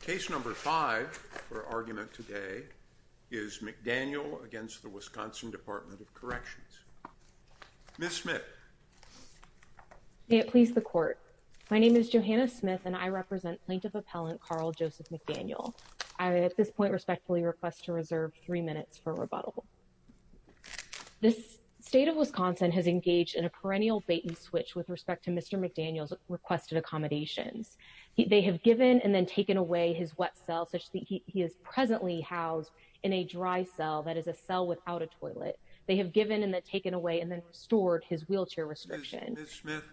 Case number five for argument today is McDaniel against the Wisconsin Department of Corrections. Ms. Smith. May it please the court. My name is Johanna Smith and I represent plaintiff appellant Carl Joseph McDaniel. I at this point respectfully request to reserve three minutes for rebuttal. This state of Wisconsin has engaged in a perennial bait and switch with respect to such that he is presently housed in a dry cell that is a cell without a toilet. They have given and taken away and then stored his wheelchair restriction. Ms. Smith,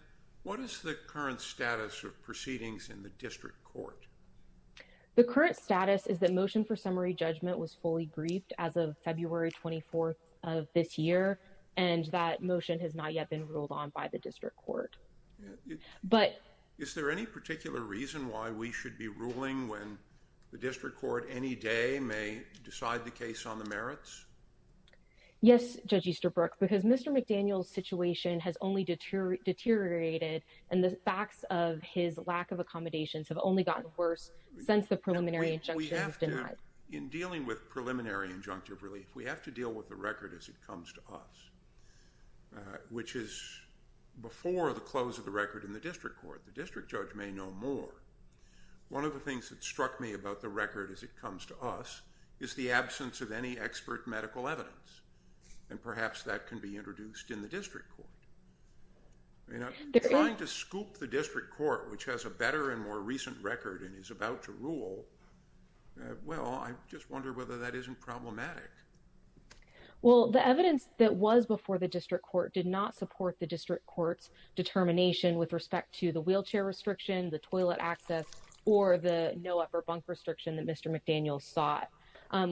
what is the current status of proceedings in the district court? The current status is that motion for summary judgment was fully grieved as of February 24th of this year and that motion has not yet been ruled on by the the district court any day may decide the case on the merits. Yes, Judge Easterbrook, because Mr. McDaniel's situation has only deteriorated and the facts of his lack of accommodations have only gotten worse since the preliminary injunction. We have to, in dealing with preliminary injunctive relief, we have to deal with the record as it comes to us, which is before the close of the record in the district court. The district judge may know more. One of the things that struck me about the record as it comes to us is the absence of any expert medical evidence and perhaps that can be introduced in the district court. Trying to scoop the district court, which has a better and more recent record and is about to rule, well, I just wonder whether that isn't problematic. Well, the evidence that was before the district court did not support the district court's determination with respect to the wheelchair restriction, the toilet access, or the no upper bunk restriction that Mr. McDaniel sought.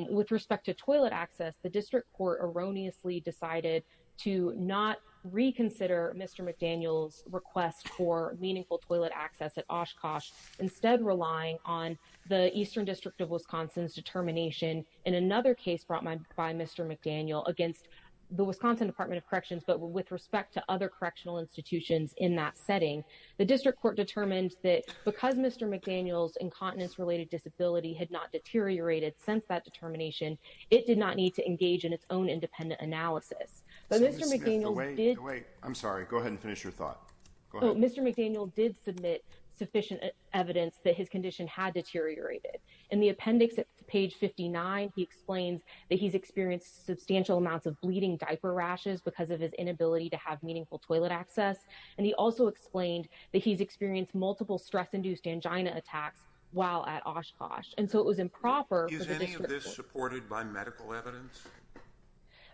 With respect to toilet access, the district court erroneously decided to not reconsider Mr. McDaniel's request for meaningful toilet access at Oshkosh, instead relying on the Eastern District of Wisconsin's determination in another case brought by Mr. McDaniel against the Wisconsin Department of Corrections, but with respect to other correctional institutions in that setting. The district court determined that because Mr. McDaniel's incontinence-related disability had not deteriorated since that determination, it did not need to engage in its own independent analysis. I'm sorry, go ahead and finish your thought. Mr. McDaniel did submit sufficient evidence that his condition had deteriorated. In the appendix at page 59, he explains that he's experienced substantial amounts of bleeding diaper rashes because of his inability to have meaningful toilet access, and he also explained that he's experienced multiple stress-induced angina attacks while at Oshkosh, and so it was improper. Is any of this supported by medical evidence?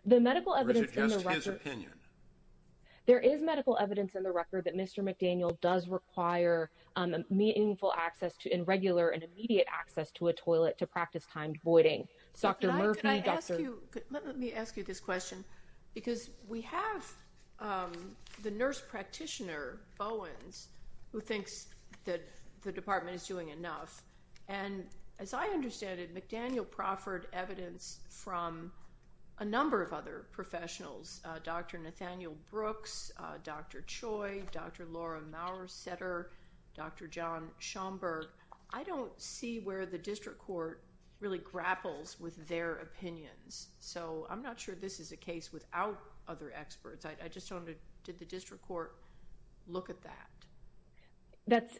The medical evidence in the record... Or is it just his opinion? There is medical evidence in the record that Mr. McDaniel does require meaningful access to and regular and immediate access to a toilet to practice timed voiding. Dr. Murphy, Dr. Murphy... The nurse practitioner, Bowens, who thinks that the department is doing enough, and as I understand it, McDaniel proffered evidence from a number of other professionals, Dr. Nathaniel Brooks, Dr. Choi, Dr. Laura Maurer-Setter, Dr. John Schomburg. I don't see where the district court really grapples with their opinions, so I'm not sure this is a case without other experts. I just wonder, did the district court look at that?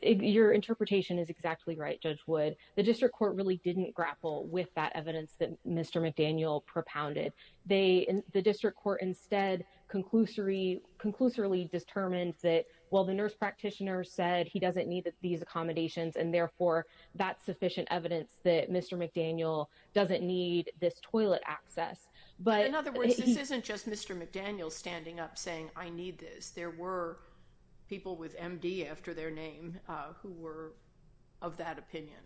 Your interpretation is exactly right, Judge Wood. The district court really didn't grapple with that evidence that Mr. McDaniel propounded. The district court instead conclusively determined that, well, the nurse practitioner said he doesn't need these accommodations, and therefore that's sufficient evidence that Mr. McDaniel doesn't need this toilet access, but... In other words, this isn't just Mr. McDaniel standing up saying, I need this. There were people with MD after their name who were of that opinion.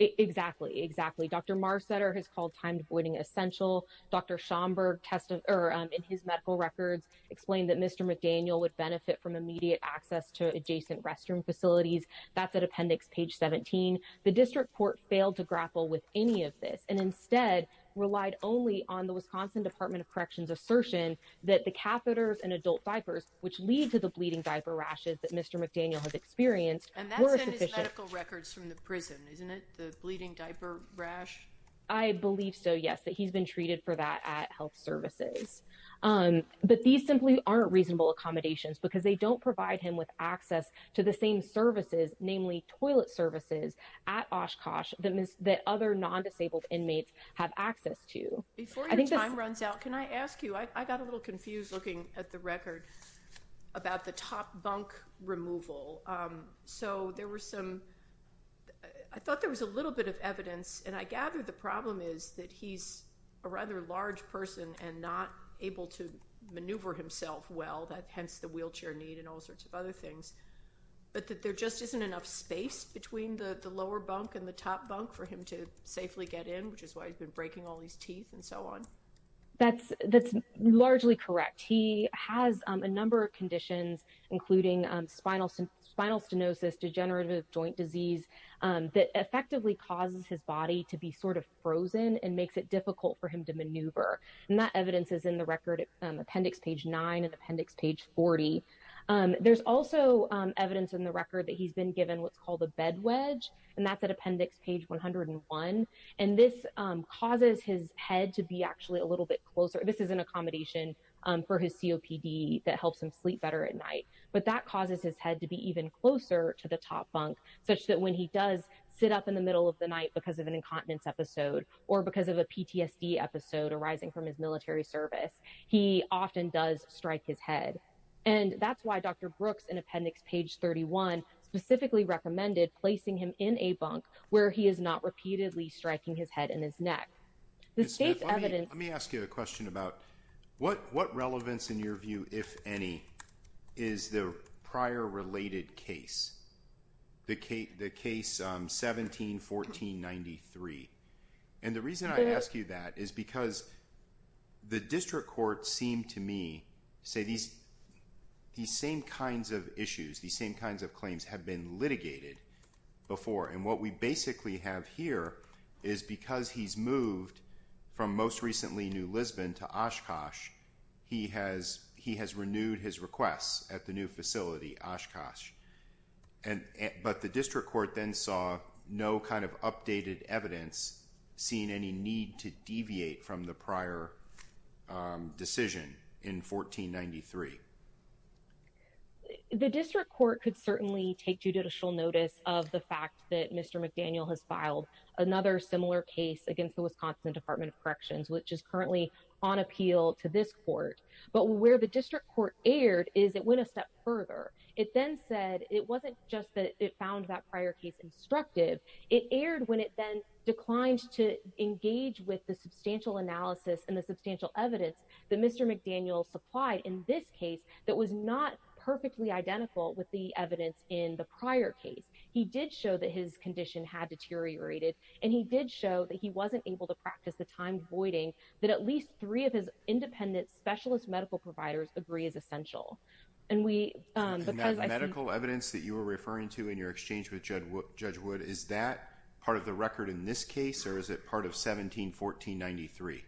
Exactly, exactly. Dr. Maurer-Setter has called timed voiding essential. Dr. Schomburg tested, or in his medical records, explained that Mr. McDaniel would benefit from immediate access to adjacent restroom facilities. That's at appendix page 17. The district court failed to grapple with any of this and instead relied only on the Wisconsin Department of Corrections assertion that the catheters and adult diapers, which lead to the bleeding diaper rashes that Mr. McDaniel has experienced, were sufficient. And that's in his medical records from the prison, isn't it? The bleeding diaper rash? I believe so, yes, that he's been treated for that at health services. But these simply aren't reasonable accommodations because they don't provide him with access to the same services, namely toilet services, at Oshkosh that other non-disabled inmates have access to. Before your time runs out, can I ask you, I got a little confused looking at the record about the top bunk removal. I thought there was a little bit of evidence, and I gather the problem is that he's a rather large person and not able to maneuver himself well, hence the wheelchair need and all sorts of other things, but that there just isn't enough space between the lower bunk and the top bunk for him to safely get in, which is why he's been breaking all these teeth and so on. That's largely correct. He has a number of conditions, including spinal stenosis, degenerative joint disease, that effectively causes his body to be sort of frozen and makes it difficult for him to maneuver. And that evidence is in the record, appendix page 9 and appendix page 40. There's also evidence in the record that he's been given a bed wedge, and that's at appendix page 101, and this causes his head to be actually a little bit closer. This is an accommodation for his COPD that helps him sleep better at night, but that causes his head to be even closer to the top bunk, such that when he does sit up in the middle of the night because of an incontinence episode or because of a PTSD episode arising from his military service, he often does strike his head. And that's why Dr. Brooks, in appendix page 31, specifically recommended placing him in a bunk where he is not repeatedly striking his head and his neck. Let me ask you a question about what relevance in your view, if any, is the prior related case, the case 17-14-93. And the reason I ask you that is because the district court seemed to me to say these same kinds of issues, these same kinds of claims have been litigated before. And what we basically have here is because he's moved from most recently New Lisbon to Oshkosh, he has renewed his requests at the new facility, Oshkosh. But the district court then saw no kind of updated evidence, seeing any need to deviate from the prior decision in 14-93. The district court could certainly take judicial notice of the fact that Mr. McDaniel has filed another similar case against the Wisconsin Department of Corrections, which is currently on appeal to this court. But where the district court erred is it went a step further. It then said it wasn't just that it found that prior case instructive, it erred when it then declined to engage with the substantial analysis and the substantial evidence that Mr. McDaniel supplied in this case that was not perfectly identical with the evidence in the prior case. He did show that his condition had deteriorated and he did show that he wasn't able to practice the time voiding that at least three of his independent specialist medical providers agree is essential. And that medical evidence that you were referring to in your exchange with Judge Wood, is that part of the record in this case or is it part of 17-14-93?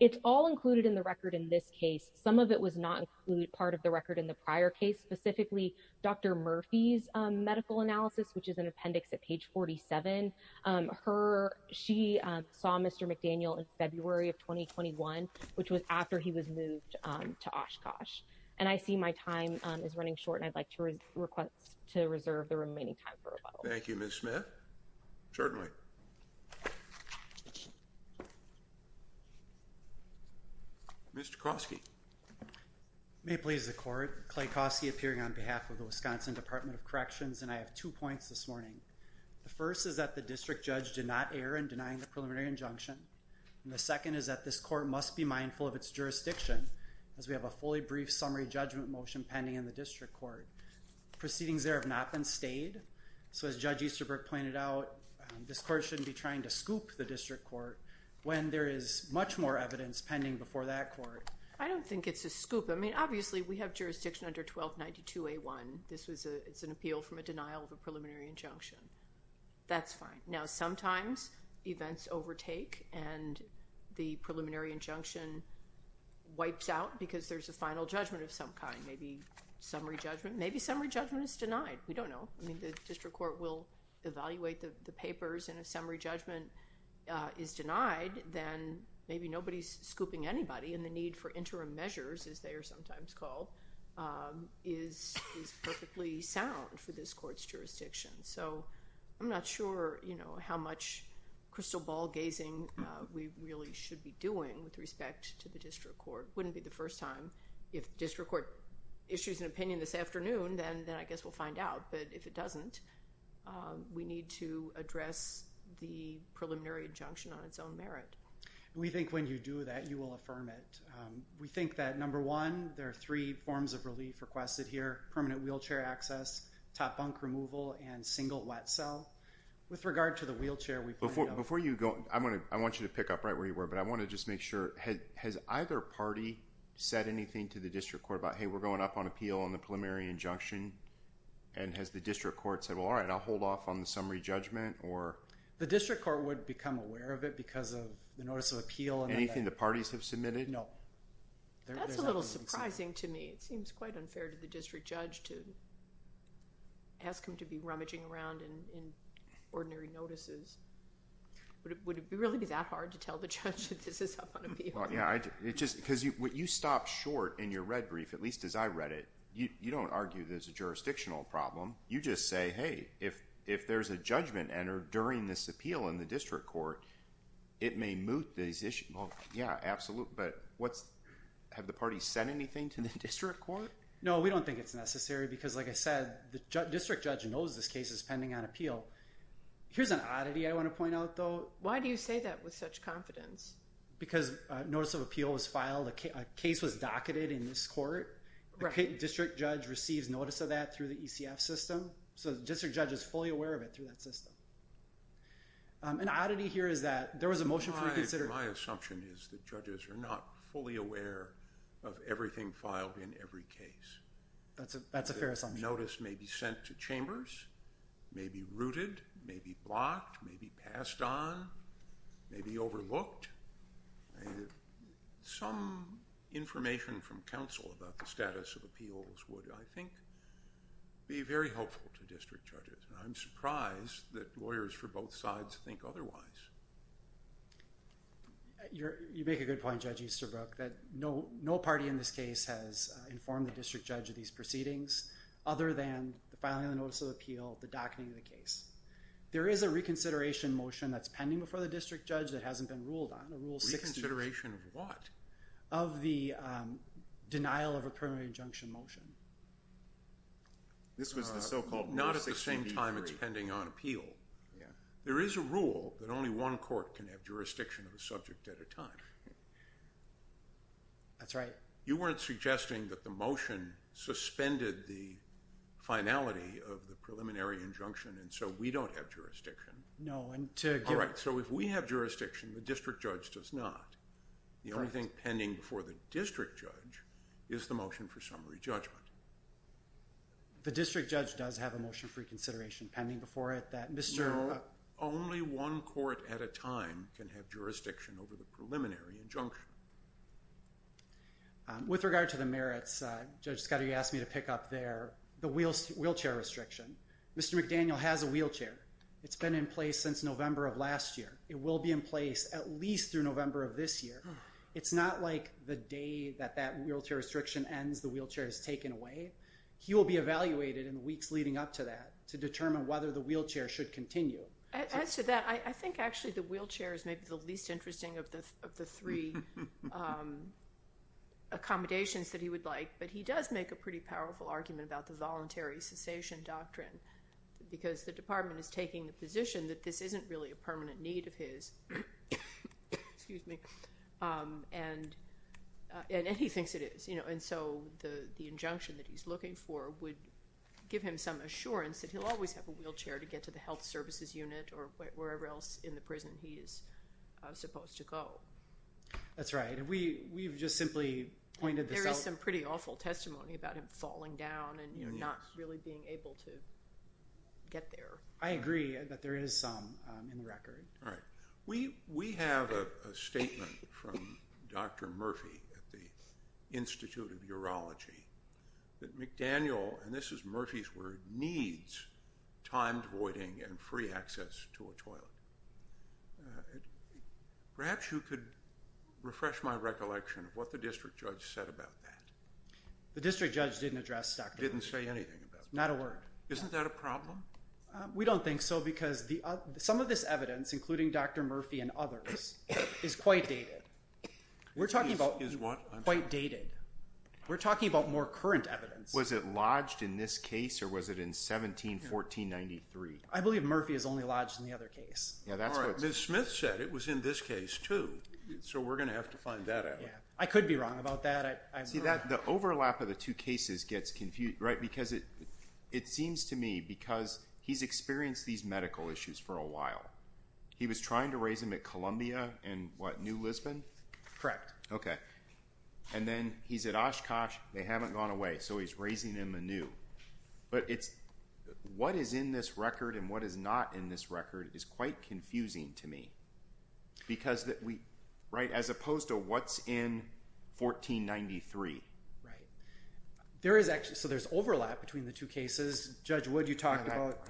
It's all included in the record in this case. Some of it was not include part of the record in the prior case, specifically Dr. Murphy's medical analysis, which is an appendix at page 47. Her, she saw Mr. McDaniel in February of 2021, which was after he was moved to Oshkosh. And I see my time is running short and I'd like to request to reserve the remaining time for a vote. Thank you, Ms. Smith. Certainly. Mr. Koski. May it please the court, Clay Koski appearing on behalf of the Wisconsin Department of Corrections and I have two points this morning. The first is that the district judge did not err in denying the preliminary injunction. And the second is that this court must be mindful of its jurisdiction as we have a fully brief summary judgment motion pending in the district court. Proceedings there have not been stayed. So as Judge Easterbrook pointed out, this court shouldn't be trying to scoop the district court when there is much more evidence pending before that court. I don't think it's a scoop. I mean, obviously we have jurisdiction under 1292A1. This was a, it's an appeal from a denial of a preliminary injunction. That's fine. Now, sometimes events overtake and the preliminary injunction wipes out because there's a final judgment of some kind. Maybe summary judgment, maybe summary judgment is denied. We don't know. I mean, the district court will evaluate the papers and if summary judgment is denied, then maybe nobody's scooping and the need for interim measures, as they are sometimes called, is perfectly sound for this court's jurisdiction. So I'm not sure, you know, how much crystal ball gazing we really should be doing with respect to the district court. Wouldn't be the first time. If district court issues an opinion this afternoon, then I guess we'll find out. But if it doesn't, we need to address the We think that, number one, there are three forms of relief requested here. Permanent wheelchair access, top bunk removal, and single wet cell. With regard to the wheelchair, we pointed out- Before you go, I want you to pick up right where you were, but I want to just make sure, has either party said anything to the district court about, hey, we're going up on appeal on the preliminary injunction? And has the district court said, well, all right, I'll hold off on the summary judgment or? The district court would become aware of it because of the notice of no. That's a little surprising to me. It seems quite unfair to the district judge to ask him to be rummaging around in ordinary notices. Would it really be that hard to tell the judge that this is up on appeal? Yeah, it just, because you stop short in your red brief, at least as I read it. You don't argue there's a jurisdictional problem. You just say, hey, if there's a judgment entered during this appeal in the district court, it may moot these issues. Yeah, absolutely. But have the parties said anything to the district court? No, we don't think it's necessary because like I said, the district judge knows this case is pending on appeal. Here's an oddity I want to point out though. Why do you say that with such confidence? Because notice of appeal was filed. A case was docketed in this court. The district judge receives notice of that through the ECF system. So the district judge is fully aware of it through that system. An oddity here is that there was a motion for reconsideration. My assumption is that judges are not fully aware of everything filed in every case. That's a fair assumption. Notice may be sent to chambers, may be rooted, may be blocked, may be passed on, may be overlooked. Some information from counsel about the status of appeals would, I think, be very helpful to district judges. And I'm surprised that lawyers for both sides think otherwise. You make a good point, Judge Easterbrook, that no party in this case has informed the district judge of these proceedings other than the filing of the notice of appeal, the docketing of the case. There is a reconsideration motion that's pending before the district judge that hasn't been ruled on, a Rule 6. Reconsideration of what? Of the This was the so-called Rule 6. Not at the same time it's pending on appeal. There is a rule that only one court can have jurisdiction of a subject at a time. That's right. You weren't suggesting that the motion suspended the finality of the preliminary injunction and so we don't have jurisdiction. No. All right. So if we have jurisdiction, the district judge does not. The only thing pending before the district judge is the motion for summary judgment. The district judge does have a motion for reconsideration pending before it that Mr. No, only one court at a time can have jurisdiction over the preliminary injunction. With regard to the merits, Judge Scott, you asked me to pick up there the wheelchair restriction. Mr. McDaniel has a wheelchair. It's been in place since November of last year. It will be in place at least through November of this year. It's not like the day that that wheelchair restriction ends, the wheelchair is taken away. He will be evaluated in the weeks leading up to that to determine whether the wheelchair should continue. As to that, I think actually the wheelchair is maybe the least interesting of the three accommodations that he would like, but he does make a pretty powerful argument about the voluntary cessation doctrine because the department is taking the position that this isn't really a permanent need of his, excuse me, and he thinks it is. And so the injunction that he's looking for would give him some assurance that he'll always have a wheelchair to get to the health services unit or wherever else in the prison he is supposed to go. That's right. We've just simply pointed this out. There is some pretty awful testimony about him falling down and not really being able to get there. I agree that there is some in the record. All right. We have a statement from Dr. Murphy at the Institute of Urology that McDaniel, and this is Murphy's word, needs timed voiding and free access to a toilet. Perhaps you could refresh my recollection of what the district judge said about that. The district judge didn't address Dr. Murphy. Didn't say anything about that. Not a word. Isn't that a problem? We don't think so because some of this evidence, including Dr. Murphy and others, is quite dated. We're talking about quite dated. We're talking about more current evidence. Was it lodged in this case or was it in 17-1493? I believe Murphy is only lodged in the other case. All right. Ms. Smith said it was in this case too, so we're going to have to find that out. I could be wrong about that. The overlap of the two cases gets confused. It seems to me because he's experienced these medical issues for a while. He was trying to raise them at Columbia and what, New Lisbon? Correct. Okay. And then he's at Oshkosh. They haven't gone away, so he's raising them anew. What is in this record and what is not in this record is quite confusing to me because as opposed to what's in 1493. Right. So there's overlap between the two cases. Judge Wood, you talked about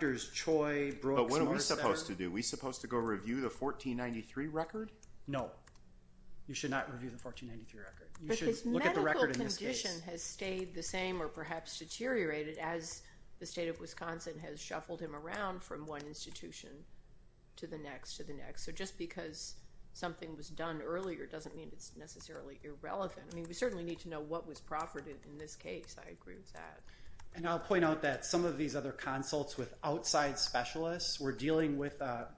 Drs. Choi, Brooks, Morse. But what are we supposed to do? Are we supposed to go review the 1493 record? No. You should not review the 1493 record. You should look at the record in this case. But his medical condition has stayed the same or perhaps deteriorated as the state of Wisconsin has shuffled him around from one institution to the next, to the next. So just because something was done earlier doesn't mean it's necessarily irrelevant. I mean, we certainly need to know what was profited in this case. I agree with that. And I'll point out that some of these other consults with outside specialists were dealing with a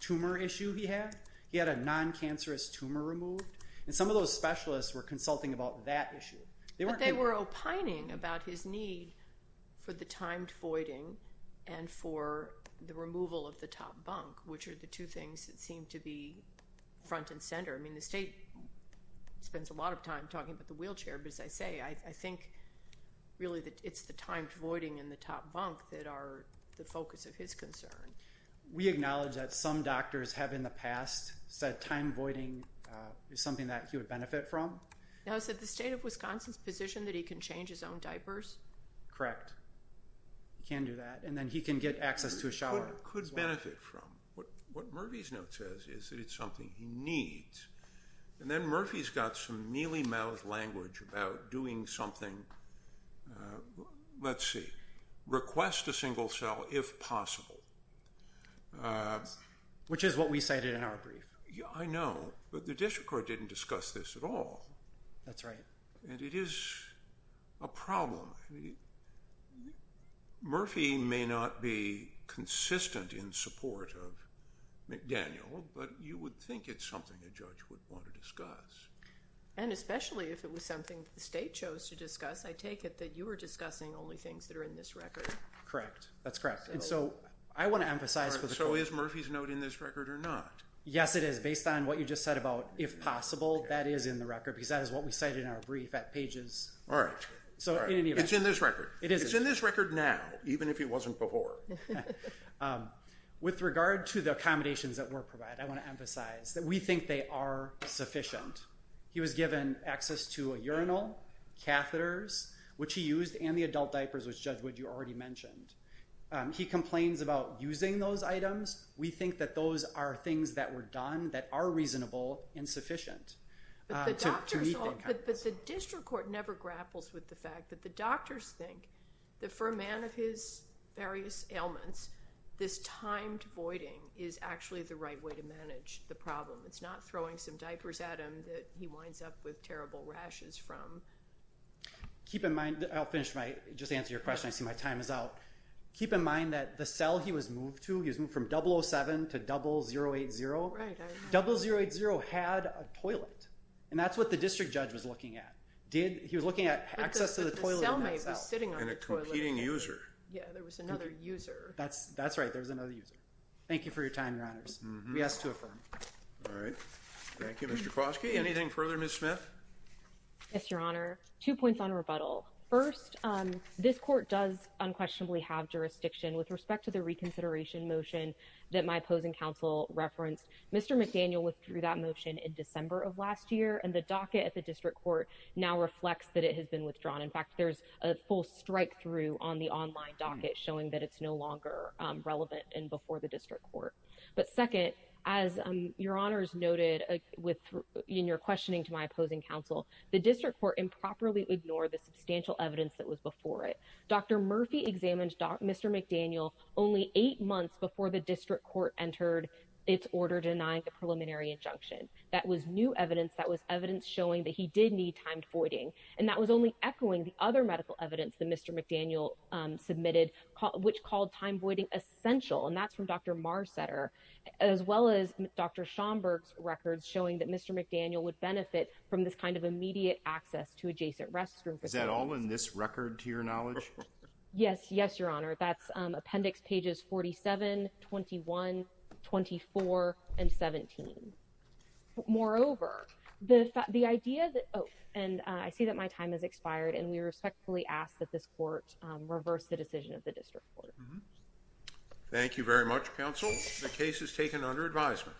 tumor issue he had. He had a non-cancerous tumor removed. And some of those specialists were consulting about that issue. But they were opining about his need for the removal of the top bunk, which are the two things that seem to be front and center. I mean, the state spends a lot of time talking about the wheelchair. But as I say, I think really that it's the timed voiding in the top bunk that are the focus of his concern. We acknowledge that some doctors have in the past said time voiding is something that he would benefit from. Now is it the state of Wisconsin's position that he can change his own diapers? Correct. He can do that. And then he can get access to a shower as well. Could benefit from. What Murphy's note says is that it's something he needs. And then Murphy's got some mealy-mouthed language about doing something, let's see, request a single cell if possible. Which is what we cited in our brief. I know. But the district court didn't discuss this at all. That's right. And it is a problem. Murphy may not be consistent in support of McDaniel, but you would think it's something a judge would want to discuss. And especially if it was something the state chose to discuss. I take it that you were discussing only things that are in this record. Correct. That's correct. And so I want to emphasize. So is Murphy's note in this record or not? Yes, it is. Based on what you just said about if possible, that is in the record, because that is what we cited in our brief at pages. All right. It's in this record. It is in this record now, even if it wasn't before. With regard to the accommodations that were provided, I want to emphasize that we think they are sufficient. He was given access to a urinal, catheters, which he used, and the adult diapers, which Judge Wood, you already mentioned. He complains about using those But the district court never grapples with the fact that the doctors think that for a man of his various ailments, this timed voiding is actually the right way to manage the problem. It's not throwing some diapers at him that he winds up with terrible rashes from. Keep in mind, I'll finish my, just answer your question. I see my time is out. Keep in mind that the cell he was moved to, he was moved from 007 to 0080. 0080 had a toilet. And that's what the district judge was looking at. Did he was looking at access to the toilet. And a competing user. Yeah, there was another user. That's that's right. There was another user. Thank you for your time, Your Honors. We ask to affirm. All right. Thank you, Mr. Kowalski. Anything further, Ms. Smith? Yes, Your Honor. Two points on rebuttal. First, this court does unquestionably have jurisdiction with respect to the reconsideration motion that my opposing counsel referenced. Mr. McDaniel withdrew that motion in December of last year, and the docket at the district court now reflects that it has been withdrawn. In fact, there's a full strikethrough on the online docket showing that it's no longer relevant and before the district court. But second, as Your Honors noted in your questioning to my opposing counsel, the district court improperly ignored the substantial evidence that was before it. Dr. Murphy examined Mr. McDaniel only eight months before the district court entered its order denying the preliminary injunction. That was new evidence. That was evidence showing that he did need timed voiding. And that was only echoing the other medical evidence that Mr. McDaniel submitted, which called time voiding essential. And that's from Dr. Mar Setter, as well as Dr. Schomburg's records showing that Mr. McDaniel would benefit from this kind of knowledge. Yes, yes, Your Honor. That's appendix pages 47, 21, 24 and 17. Moreover, the idea that oh, and I see that my time has expired and we respectfully ask that this court reverse the decision of the district court. Thank you very much, counsel. The case is taken under advisement.